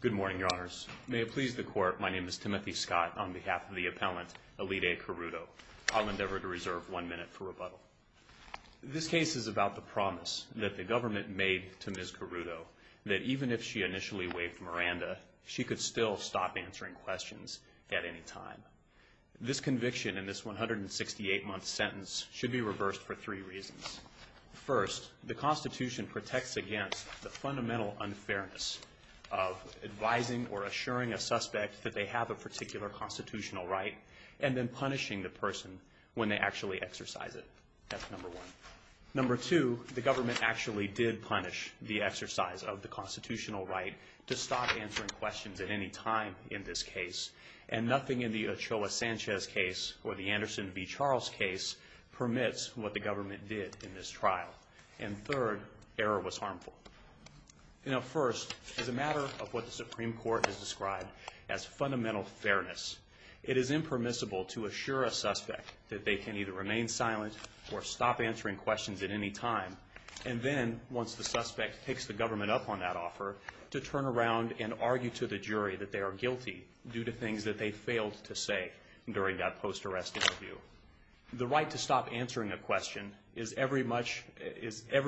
Good morning, Your Honors. May it please the Court, my name is Timothy Scott on behalf of the appellant Alida Caruto. I'll endeavor to reserve one minute for rebuttal. This case is about the promise that the government made to Ms. Caruto that even if she initially waived Miranda, she could still stop answering questions at any time. This conviction in this 168-month sentence should be reversed for three reasons. First, the Constitution protects against the fundamental unfairness of advising or assuring a suspect that they have a particular constitutional right and then punishing the person when they actually exercise it. That's number one. Number two, the government actually did punish the exercise of the constitutional right to stop answering questions at any time in this case and nothing in the Ochoa Sanchez case or the Anderson v. Charles case permits what the government did in this trial. And third, error was harmful. Now first, as a matter of what the Supreme Court has described as fundamental fairness, it is impermissible to assure a suspect that they can either remain silent or stop answering questions at any time and then, once the suspect picks the government up on that offer, to turn around and argue to the jury that they are guilty due to things that they failed to say during that post-arrest interview. The right to stop answering a question is every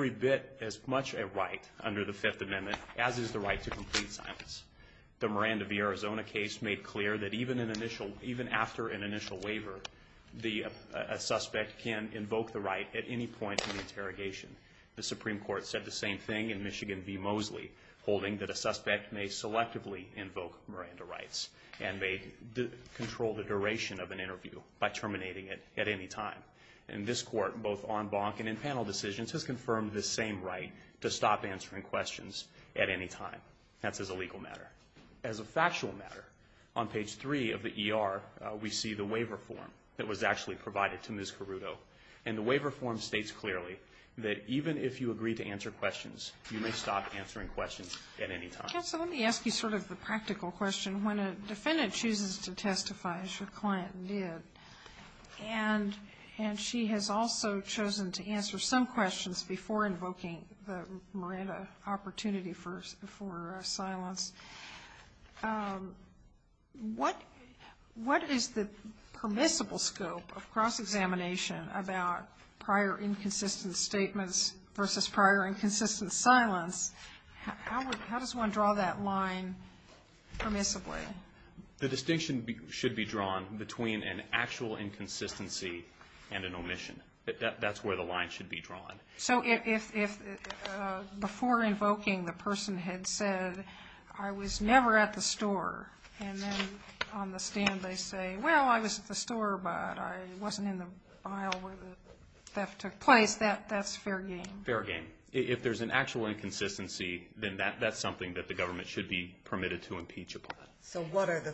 bit as much a right under the Fifth Amendment as is the right to complete silence. The Miranda v. Arizona case made clear that even after an initial waiver, a suspect can invoke the right at any point in the interrogation. The Supreme Court said the same thing in Michigan v. Mosley, holding that a suspect may selectively invoke Miranda rights and may control the duration of an interview by terminating it at any time. And this Court, both on bonk and in panel decisions, has confirmed this same right to stop answering questions at any time. That's as a legal matter. As a factual matter, on page 3 of the ER, we see the waiver form that was actually provided to Ms. Caruto. And the waiver form states clearly that even if you agree to answer questions, you may stop answering questions at any time. Sotomayor, let me ask you sort of the practical question. When a defendant chooses to testify, as your client did, and she has also chosen to answer some questions before invoking the Miranda opportunity for silence, what is the permissible scope of cross-examination about prior inconsistent statements versus prior inconsistent silence? How does one draw that line permissibly? The distinction should be drawn between an actual inconsistency and an omission. That's where the line should be drawn. So if before invoking the person had said, I was never at the store, and then on the stand they say, well, I was at the store, but I wasn't in the aisle where the theft took place, that's fair game? Fair game. If there's an actual inconsistency, then that's something that the government should be permitted to impeach upon. So what are the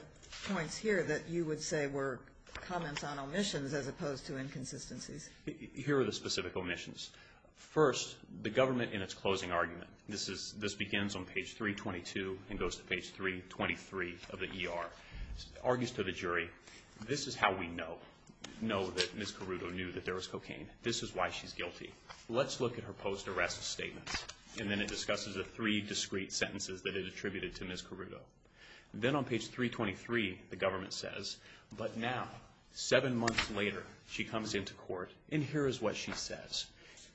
points here that you would say were comments on omissions as opposed to inconsistencies? Here are the specific omissions. First, the government in its closing argument, this begins on page 322 and goes to page 323 of the ER, argues to the jury, this is how we know that Ms. Caruto knew that there was cocaine. This is why she's guilty. Let's look at her post-arrest statement, and then it discusses the three discrete sentences that it attributed to Ms. Caruto. Then on page 323, the government says, but now, seven months later, she comes into court, and here is what she says.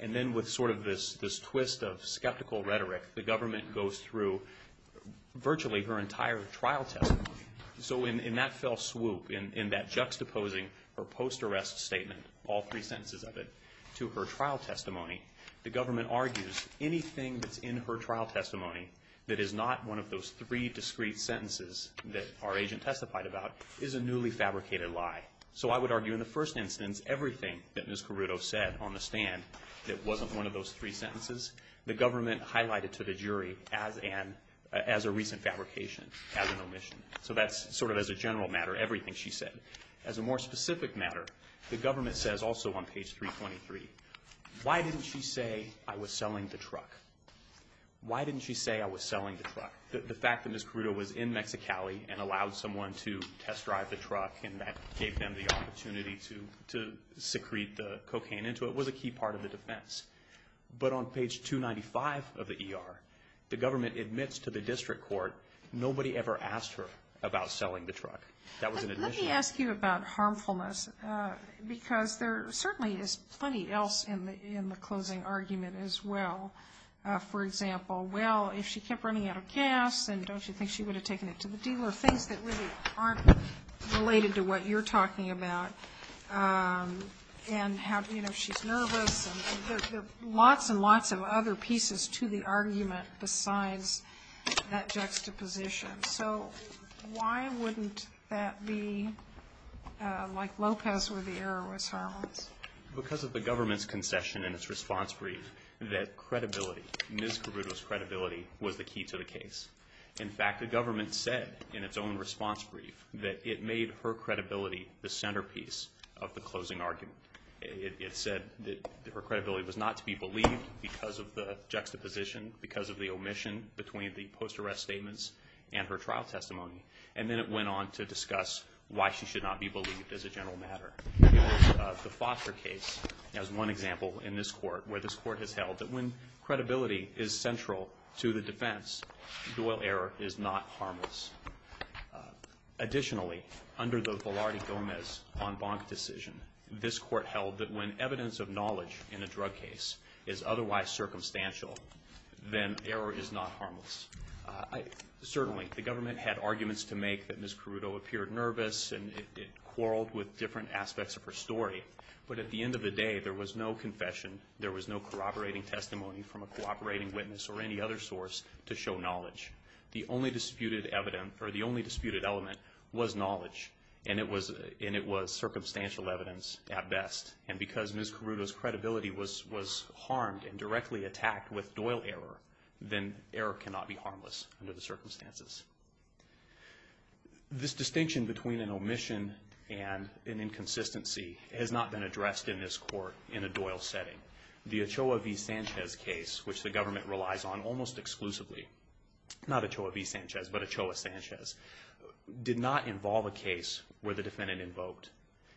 And then with sort of this twist of skeptical rhetoric, the government goes through virtually her entire trial testimony. So in that fell swoop, in that juxtaposing her post-arrest statement, all three sentences of it, to her trial testimony, the government argues anything that's in her trial testimony that is not one of those three discrete sentences that our agent testified about is a newly fabricated lie. So I would argue in the first instance, everything that Ms. Caruto said on the stand that wasn't one of those three sentences, the government highlighted to the jury as a recent fabrication, as an omission. So that's sort of as a general matter, everything she said. As a more specific matter, the government says also on page 323, why didn't she say I was selling the truck? Why didn't she say I was selling the truck? The fact that Ms. Caruto was in Mexicali and allowed someone to test drive the truck, and that gave them the opportunity to secrete the cocaine into it, was a key part of the defense. But on page 295 of the ER, the government admits to the district court, nobody ever asked her about selling the truck. That was an omission. Let me ask you about harmfulness, because there certainly is plenty else in the closing argument as well. For example, well, if she kept running out of gas, then don't you think she would have taken it to the dealer? Or things that really aren't related to what you're talking about, and, you know, she's nervous. There are lots and lots of other pieces to the argument besides that juxtaposition. So why wouldn't that be like Lopez where the error was harmless? Because of the government's concession and its response brief, that credibility, Ms. Caruto's credibility, was the key to the case. In fact, the government said in its own response brief that it made her credibility the centerpiece of the closing argument. It said that her credibility was not to be believed because of the juxtaposition, because of the omission between the post-arrest statements and her trial testimony. And then it went on to discuss why she should not be believed as a general matter. Here is the Foster case as one example in this court where this court has held that when credibility is central to the defense, Doyle error is not harmless. Additionally, under the Velarde-Gomez-Von Bonk decision, this court held that when evidence of knowledge in a drug case is otherwise circumstantial, then error is not harmless. Certainly, the government had arguments to make that Ms. Caruto appeared nervous and quarreled with different aspects of her story. But at the end of the day, there was no confession. There was no corroborating testimony from a cooperating witness or any other source to show knowledge. The only disputed element was knowledge, and it was circumstantial evidence at best. And because Ms. Caruto's credibility was harmed and directly attacked with Doyle error, then error cannot be harmless under the circumstances. This distinction between an omission and an inconsistency has not been addressed in this court in a Doyle setting. The Ochoa v. Sanchez case, which the government relies on almost exclusively, not Ochoa v. Sanchez, but Ochoa Sanchez, did not involve a case where the defendant invoked.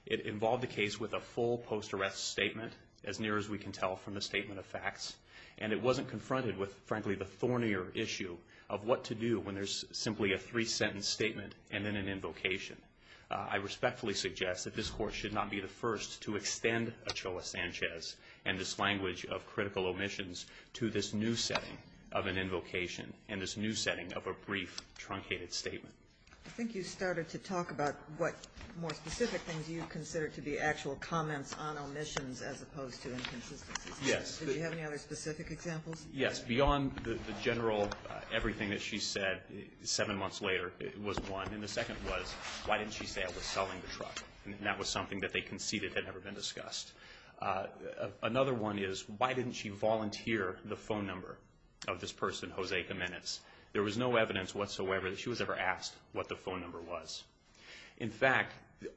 It involved a case with a full post-arrest statement, as near as we can tell from the statement of facts, and it wasn't confronted with, frankly, the thornier issue of what to do when there's simply a three-sentence statement and then an invocation. I respectfully suggest that this Court should not be the first to extend Ochoa Sanchez and this language of critical omissions to this new setting of an invocation and this new setting of a brief, truncated statement. I think you started to talk about what more specific things you consider to be actual comments on omissions as opposed to inconsistencies. Yes. Do you have any other specific examples? Yes. Beyond the general everything that she said seven months later was one. And the second was, why didn't she say I was selling the truck? And that was something that they conceded had never been discussed. Another one is, why didn't she volunteer the phone number of this person, Jose Jimenez? There was no evidence whatsoever that she was ever asked what the phone number was. In fact,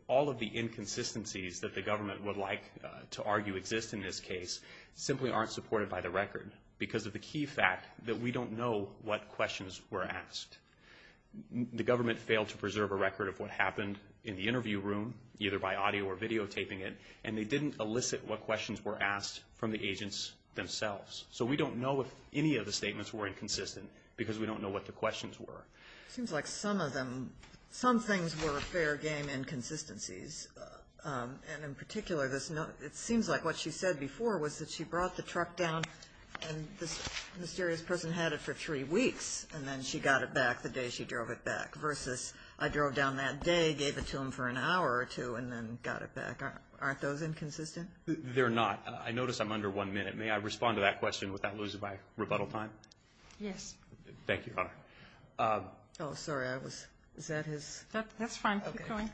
all of the inconsistencies that the government would like to argue exist in this case simply aren't supported by the record because of the key fact that we don't know what questions were asked. The government failed to preserve a record of what happened in the interview room, either by audio or videotaping it, and they didn't elicit what questions were asked from the agents themselves. So we don't know if any of the statements were inconsistent because we don't know what the questions were. It seems like some of them, some things were fair game inconsistencies, and in particular it seems like what she said before was that she brought the truck down and this mysterious person had it for three weeks and then she got it back the day she drove it back versus I drove down that day, gave it to them for an hour or two, and then got it back. Aren't those inconsistent? They're not. I notice I'm under one minute. May I respond to that question without losing my rebuttal time? Yes. Thank you, Your Honor. Oh, sorry. Is that his? That's fine. Keep going.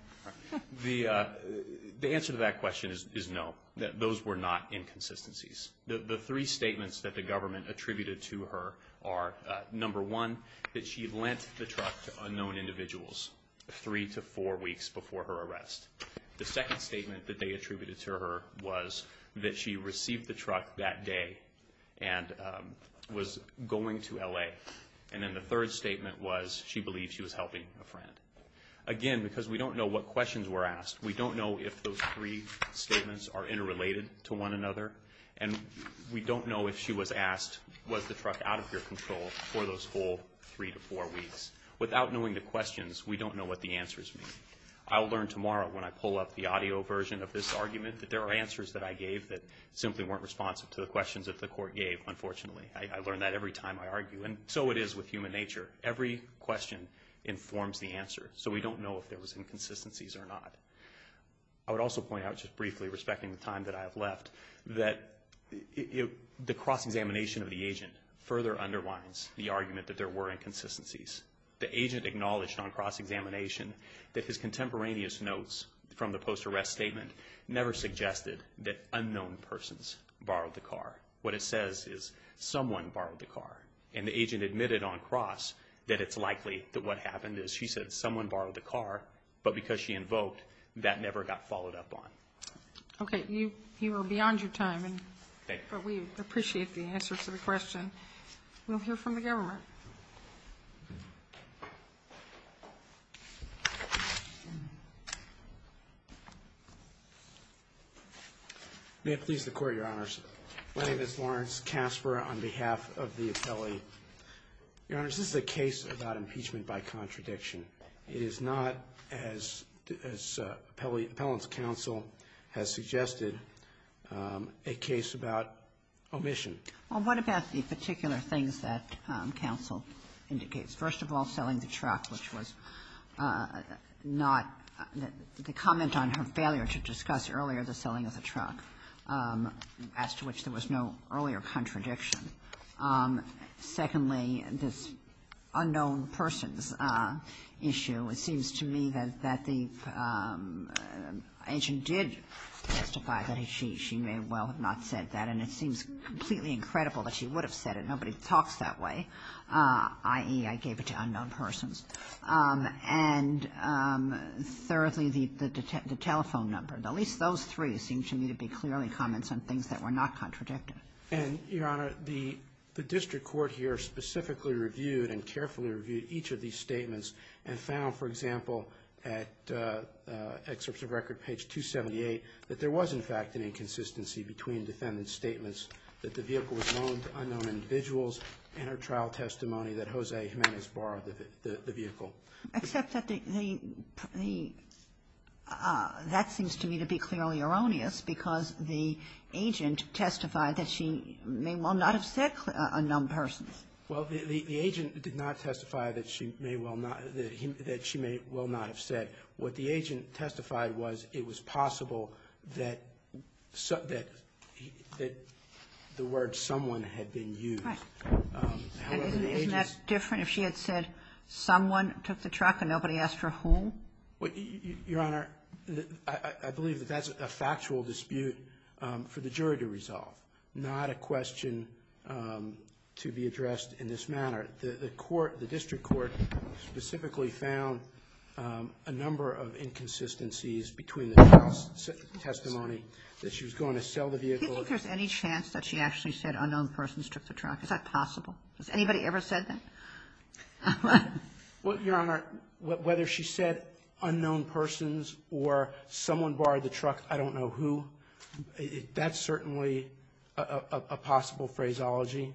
The answer to that question is no. Those were not inconsistencies. The three statements that the government attributed to her are, number one, that she lent the truck to unknown individuals three to four weeks before her arrest. The second statement that they attributed to her was that she received the truck that day and was going to L.A. And then the third statement was she believed she was helping a friend. Again, because we don't know what questions were asked, we don't know if those three statements are interrelated to one another, and we don't know if she was asked, was the truck out of your control for those whole three to four weeks. Without knowing the questions, we don't know what the answers mean. I'll learn tomorrow when I pull up the audio version of this argument that there are answers that I gave that simply weren't responsive to the questions that the court gave, unfortunately. I learn that every time I argue, and so it is with human nature. Every question informs the answer, so we don't know if there was inconsistencies or not. I would also point out, just briefly respecting the time that I have left, that the cross-examination of the agent further underlines the argument that there were inconsistencies. The agent acknowledged on cross-examination that his contemporaneous notes from the post-arrest statement never suggested that unknown persons borrowed the car. What it says is someone borrowed the car, and the agent admitted on cross that it's likely that what happened is she said someone borrowed the car, but because she invoked, that never got followed up on. Okay, you are beyond your time, but we appreciate the answers to the question. We'll hear from the government. May it please the Court, Your Honors. My name is Lawrence Kasper on behalf of the appellee. Your Honors, this is a case about impeachment by contradiction. It is not, as Appellant's counsel has suggested, a case about omission. Well, what about the particular things that counsel indicates? First of all, selling the truck, which was not the comment on her failure to discuss earlier the selling of the truck, as to which there was no earlier contradiction. Secondly, this unknown persons issue. It seems to me that the agent did testify that she may well have not said that, and it seems completely incredible that she would have said it. Nobody talks that way, i.e., I gave it to unknown persons. And thirdly, the telephone number. At least those three seem to me to be clearly comments on things that were not contradicted. And, Your Honor, the district court here specifically reviewed and carefully reviewed each of these statements and found, for example, at excerpts of record page 278, that there was, in fact, an inconsistency between defendant's statements that the vehicle was loaned to unknown individuals and her trial testimony that Jose Jimenez borrowed the vehicle. Except that the the that seems to me to be clearly erroneous because the agent testified that she may well not have said unknown persons. Well, the agent did not testify that she may well not that she may well not have said. What the agent testified was it was possible that the word someone had been used. Right. Isn't that different? If she had said someone took the truck and nobody asked her who? Your Honor, I believe that that's a factual dispute for the jury to resolve, not a question to be addressed in this manner. The court, the district court, specifically found a number of inconsistencies between the testimony that she was going to sell the vehicle. Do you think there's any chance that she actually said unknown persons took the truck? Is that possible? Has anybody ever said that? Well, Your Honor, whether she said unknown persons or someone borrowed the truck, I don't know who. That's certainly a possible phraseology.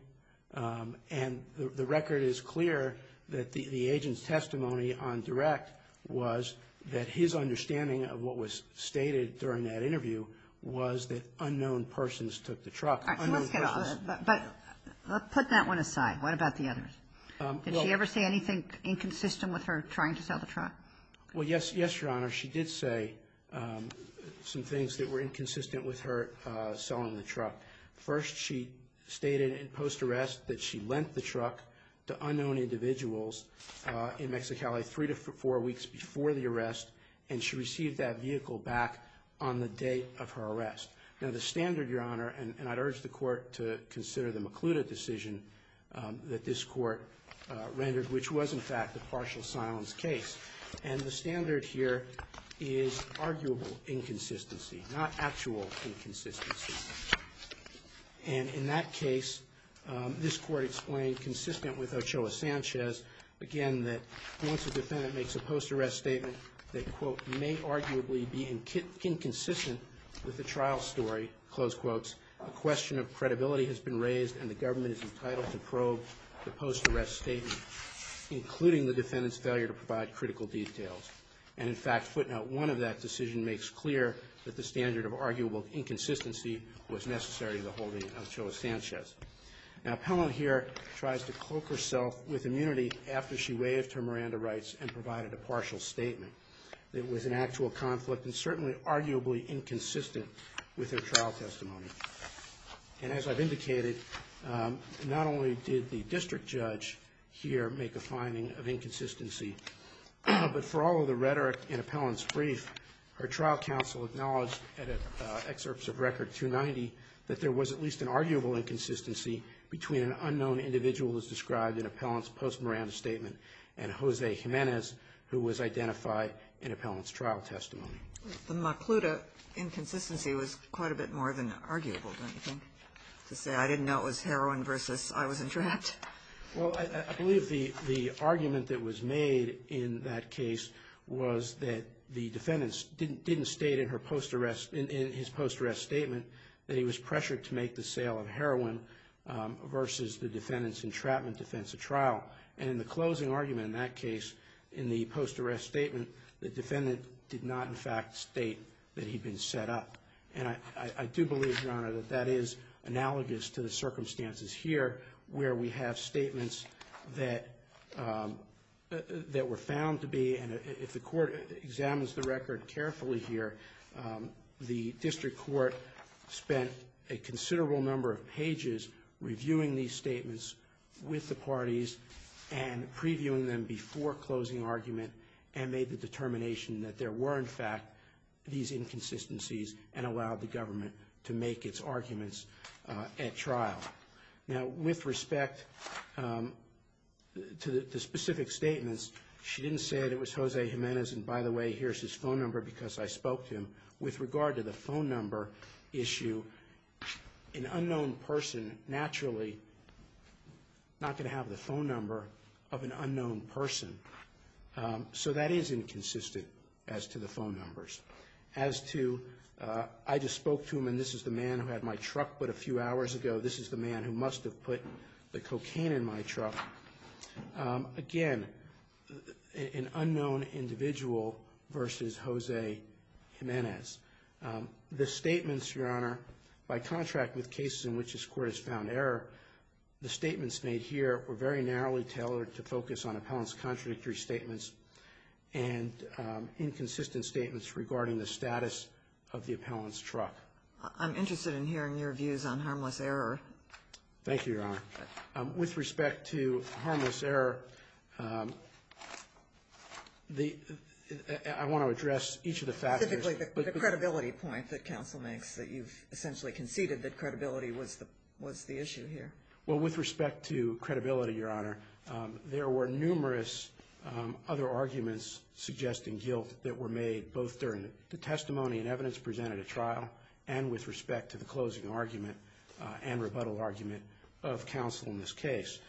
And the record is clear that the agent's testimony on direct was that his understanding of what was stated during that interview was that unknown persons took the truck. Let's put that one aside. What about the others? Did she ever say anything inconsistent with her trying to sell the truck? Well, yes, Your Honor. First, she stated in post-arrest that she lent the truck to unknown individuals in Mexicali three to four weeks before the arrest, and she received that vehicle back on the date of her arrest. Now, the standard, Your Honor, and I'd urge the court to consider the McLuda decision that this court rendered, which was, in fact, a partial silence case. And the standard here is arguable inconsistency, not actual inconsistency. And in that case, this court explained, consistent with Ochoa Sanchez, again, that once a defendant makes a post-arrest statement that, quote, may arguably be inconsistent with the trial story, close quotes, a question of credibility has been raised and the government is entitled to probe the post-arrest statement, including the defendant's failure to provide critical details. And, in fact, footnote one of that decision makes clear that the standard of arguable inconsistency was necessary to the holding of Ochoa Sanchez. Now, Appellant here tries to cloak herself with immunity after she waived her Miranda rights and provided a partial statement. It was an actual conflict and certainly arguably inconsistent with her trial testimony. And as I've indicated, not only did the district judge here make a finding of inconsistency, but for all of the rhetoric in Appellant's brief, her trial counsel acknowledged at excerpts of Record 290 that there was at least an arguable inconsistency between an unknown individual as described in Appellant's post-Miranda statement and Jose Jimenez, who was identified in Appellant's trial testimony. The Makluta inconsistency was quite a bit more than arguable, don't you think? To say, I didn't know it was heroin versus I was entrapped. Well, I believe the argument that was made in that case was that the defendant didn't state in her post-arrest, in his post-arrest statement that he was pressured to make the sale of heroin versus the defendant's entrapment defense of trial. And in the closing argument in that case, in the post-arrest statement, the defendant did not, in fact, state that he'd been set up. And I do believe, Your Honor, that that is analogous to the circumstances here where we have statements that were found to be, and if the court examines the record carefully here, the district court spent a considerable number of pages reviewing these statements with the parties and previewing them before closing argument and made the determination that there were, in fact, these inconsistencies and allowed the government to make its arguments at trial. Now, with respect to the specific statements, she didn't say that it was Jose Jimenez, and by the way, here's his phone number because I spoke to him. With regard to the phone number issue, an unknown person naturally is not going to have the phone number of an unknown person. So that is inconsistent as to the phone numbers. As to, I just spoke to him and this is the man who had my truck put a few hours ago, this is the man who must have put the cocaine in my truck. Again, an unknown individual versus Jose Jimenez. The statements, Your Honor, by contract with cases in which this court has found error, the statements made here were very narrowly tailored to focus on appellant's contradictory statements and inconsistent statements regarding the status of the appellant's truck. I'm interested in hearing your views on harmless error. Thank you, Your Honor. With respect to harmless error, I want to address each of the factors. The credibility point that counsel makes that you've essentially conceded that credibility was the issue here. Well, with respect to credibility, Your Honor, there were numerous other arguments suggesting guilt that were made, both during the testimony and evidence presented at trial and with respect to the closing argument and rebuttal argument of counsel in this case.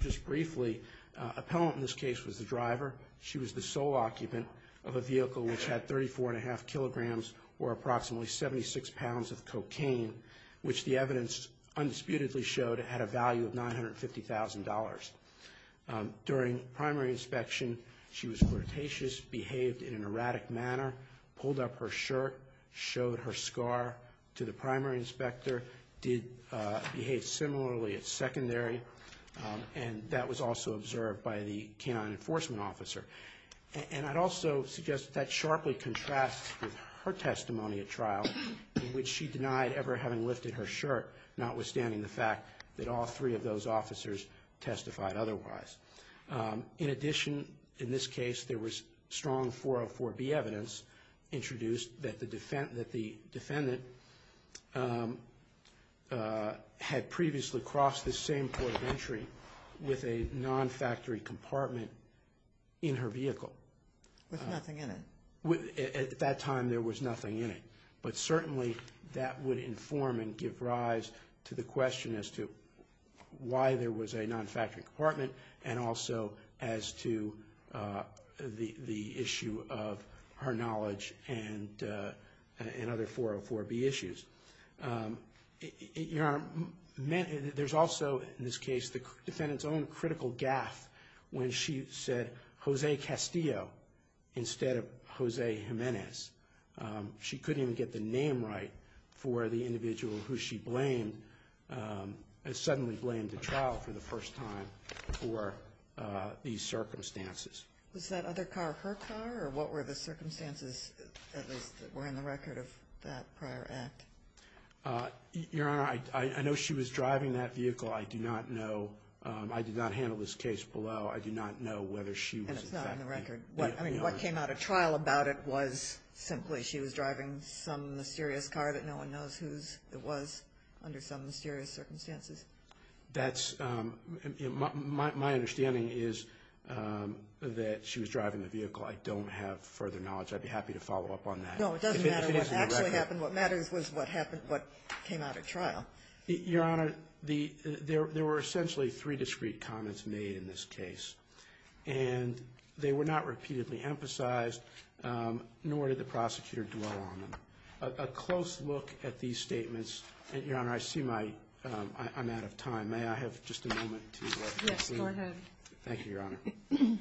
Just briefly, appellant in this case was the driver. She was the sole occupant of a vehicle which had 34.5 kilograms or approximately 76 pounds of cocaine, which the evidence undisputedly showed had a value of $950,000. During primary inspection, she was flirtatious, behaved in an erratic manner, pulled up her shirt, showed her scar to the primary inspector, did behave similarly at secondary, and that was also observed by the K-9 enforcement officer. And I'd also suggest that that sharply contrasts with her testimony at trial, in which she denied ever having lifted her shirt, notwithstanding the fact that all three of those officers testified otherwise. In addition, in this case, there was strong 404B evidence introduced that the defendant had previously crossed this same port of entry with a non-factory compartment in her vehicle. With nothing in it? At that time, there was nothing in it. But certainly, that would inform and give rise to the question as to why there was a non-factory compartment and also as to the issue of her knowledge and other 404B issues. Your Honor, there's also, in this case, the defendant's own critical gaffe when she said, Jose Castillo instead of Jose Jimenez. She couldn't even get the name right for the individual who she blamed and suddenly blamed at trial for the first time for these circumstances. Was that other car her car, or what were the circumstances that were in the record of that prior act? Your Honor, I know she was driving that vehicle. I do not know. I did not handle this case below. I do not know whether she was in fact. And it's not in the record. I mean, what came out at trial about it was simply she was driving some mysterious car that no one knows who it was under some mysterious circumstances. That's my understanding is that she was driving the vehicle. I don't have further knowledge. I'd be happy to follow up on that. No, it doesn't matter what actually happened. What matters was what came out at trial. Your Honor, there were essentially three discreet comments made in this case, and they were not repeatedly emphasized, nor did the prosecutor dwell on them. A close look at these statements, and, Your Honor, I see I'm out of time. May I have just a moment to look at these? Yes, go ahead. Thank you, Your Honor.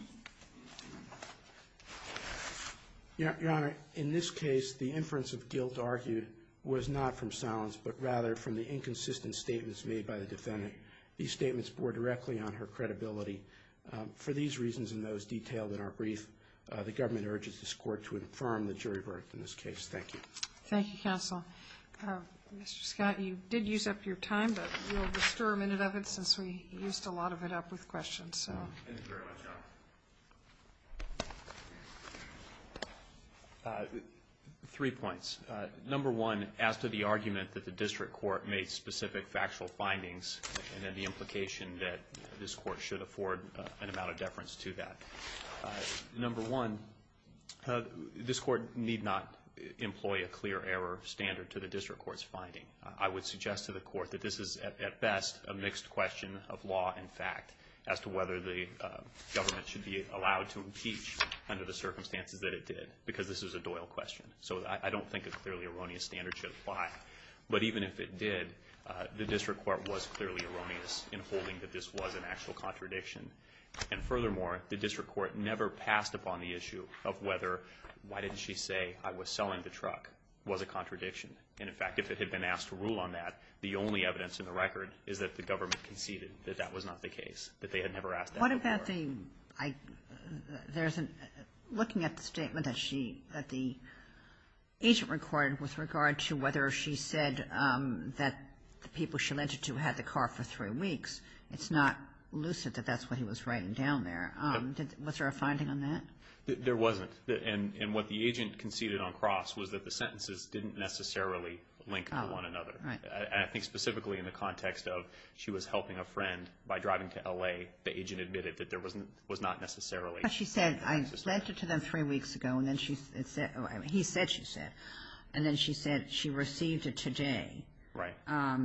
Your Honor, in this case, the inference of guilt argued was not from sounds but rather from the inconsistent statements made by the defendant. These statements bore directly on her credibility. For these reasons and those detailed in our brief, the government urges this Court to infirm the jury verdict in this case. Thank you. Thank you, counsel. Mr. Scott, you did use up your time, but we'll just stir a minute of it since we used a lot of it up with questions. Thank you very much, Your Honor. Three points. Number one, as to the argument that the district court made specific factual findings and then the implication that this court should afford an amount of deference to that. Number one, this court need not employ a clear error standard to the district court's finding. I would suggest to the court that this is, at best, a mixed question of law and fact as to whether the government should be allowed to impeach under the circumstances that it did, because this is a Doyle question. So I don't think a clearly erroneous standard should apply. But even if it did, the district court was clearly erroneous in holding that this was an actual contradiction. And furthermore, the district court never passed upon the issue of whether why didn't she say I was selling the truck was a contradiction. And, in fact, if it had been asked to rule on that, the only evidence in the record is that the government conceded that that was not the case, that they had never asked that before. Kagan. Looking at the statement that the agent recorded with regard to whether she said that the people she lent it to had the car for three weeks, it's not lucid that that's what he was writing down there. Was there a finding on that? There wasn't. And what the agent conceded on cross was that the sentences didn't necessarily link to one another. I think specifically in the context of she was helping a friend by driving to L.A., the agent admitted that there was not necessarily. But she said I lent it to them three weeks ago. And then she said he said she said. And then she said she received it today. Right. I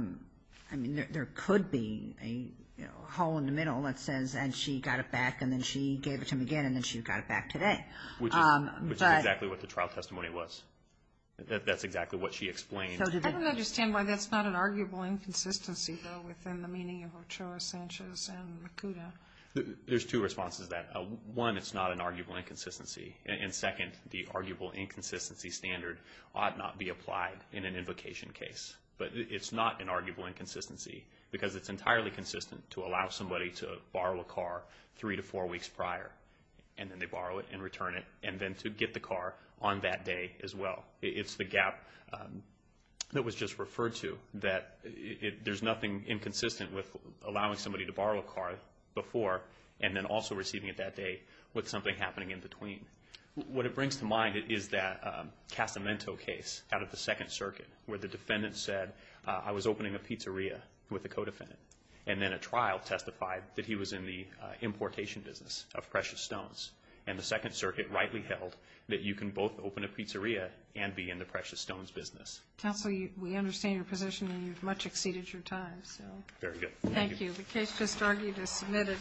mean, there could be a hole in the middle that says and she got it back and then she gave it to him again and then she got it back today. Which is exactly what the trial testimony was. That's exactly what she explained. I don't understand why that's not an arguable inconsistency, though, There's two responses to that. One, it's not an arguable inconsistency. And second, the arguable inconsistency standard ought not be applied in an invocation case. But it's not an arguable inconsistency because it's entirely consistent to allow somebody to borrow a car three to four weeks prior and then they borrow it and return it and then to get the car on that day as well. It's the gap that was just referred to that there's nothing inconsistent with allowing somebody to borrow a car before and then also receiving it that day with something happening in between. What it brings to mind is that Casamento case out of the Second Circuit where the defendant said, I was opening a pizzeria with a co-defendant. And then a trial testified that he was in the importation business of Precious Stones. And the Second Circuit rightly held that you can both open a pizzeria and be in the Precious Stones business. Counsel, we understand your position and you've much exceeded your time. Very good. Thank you. The case just argued is submitted.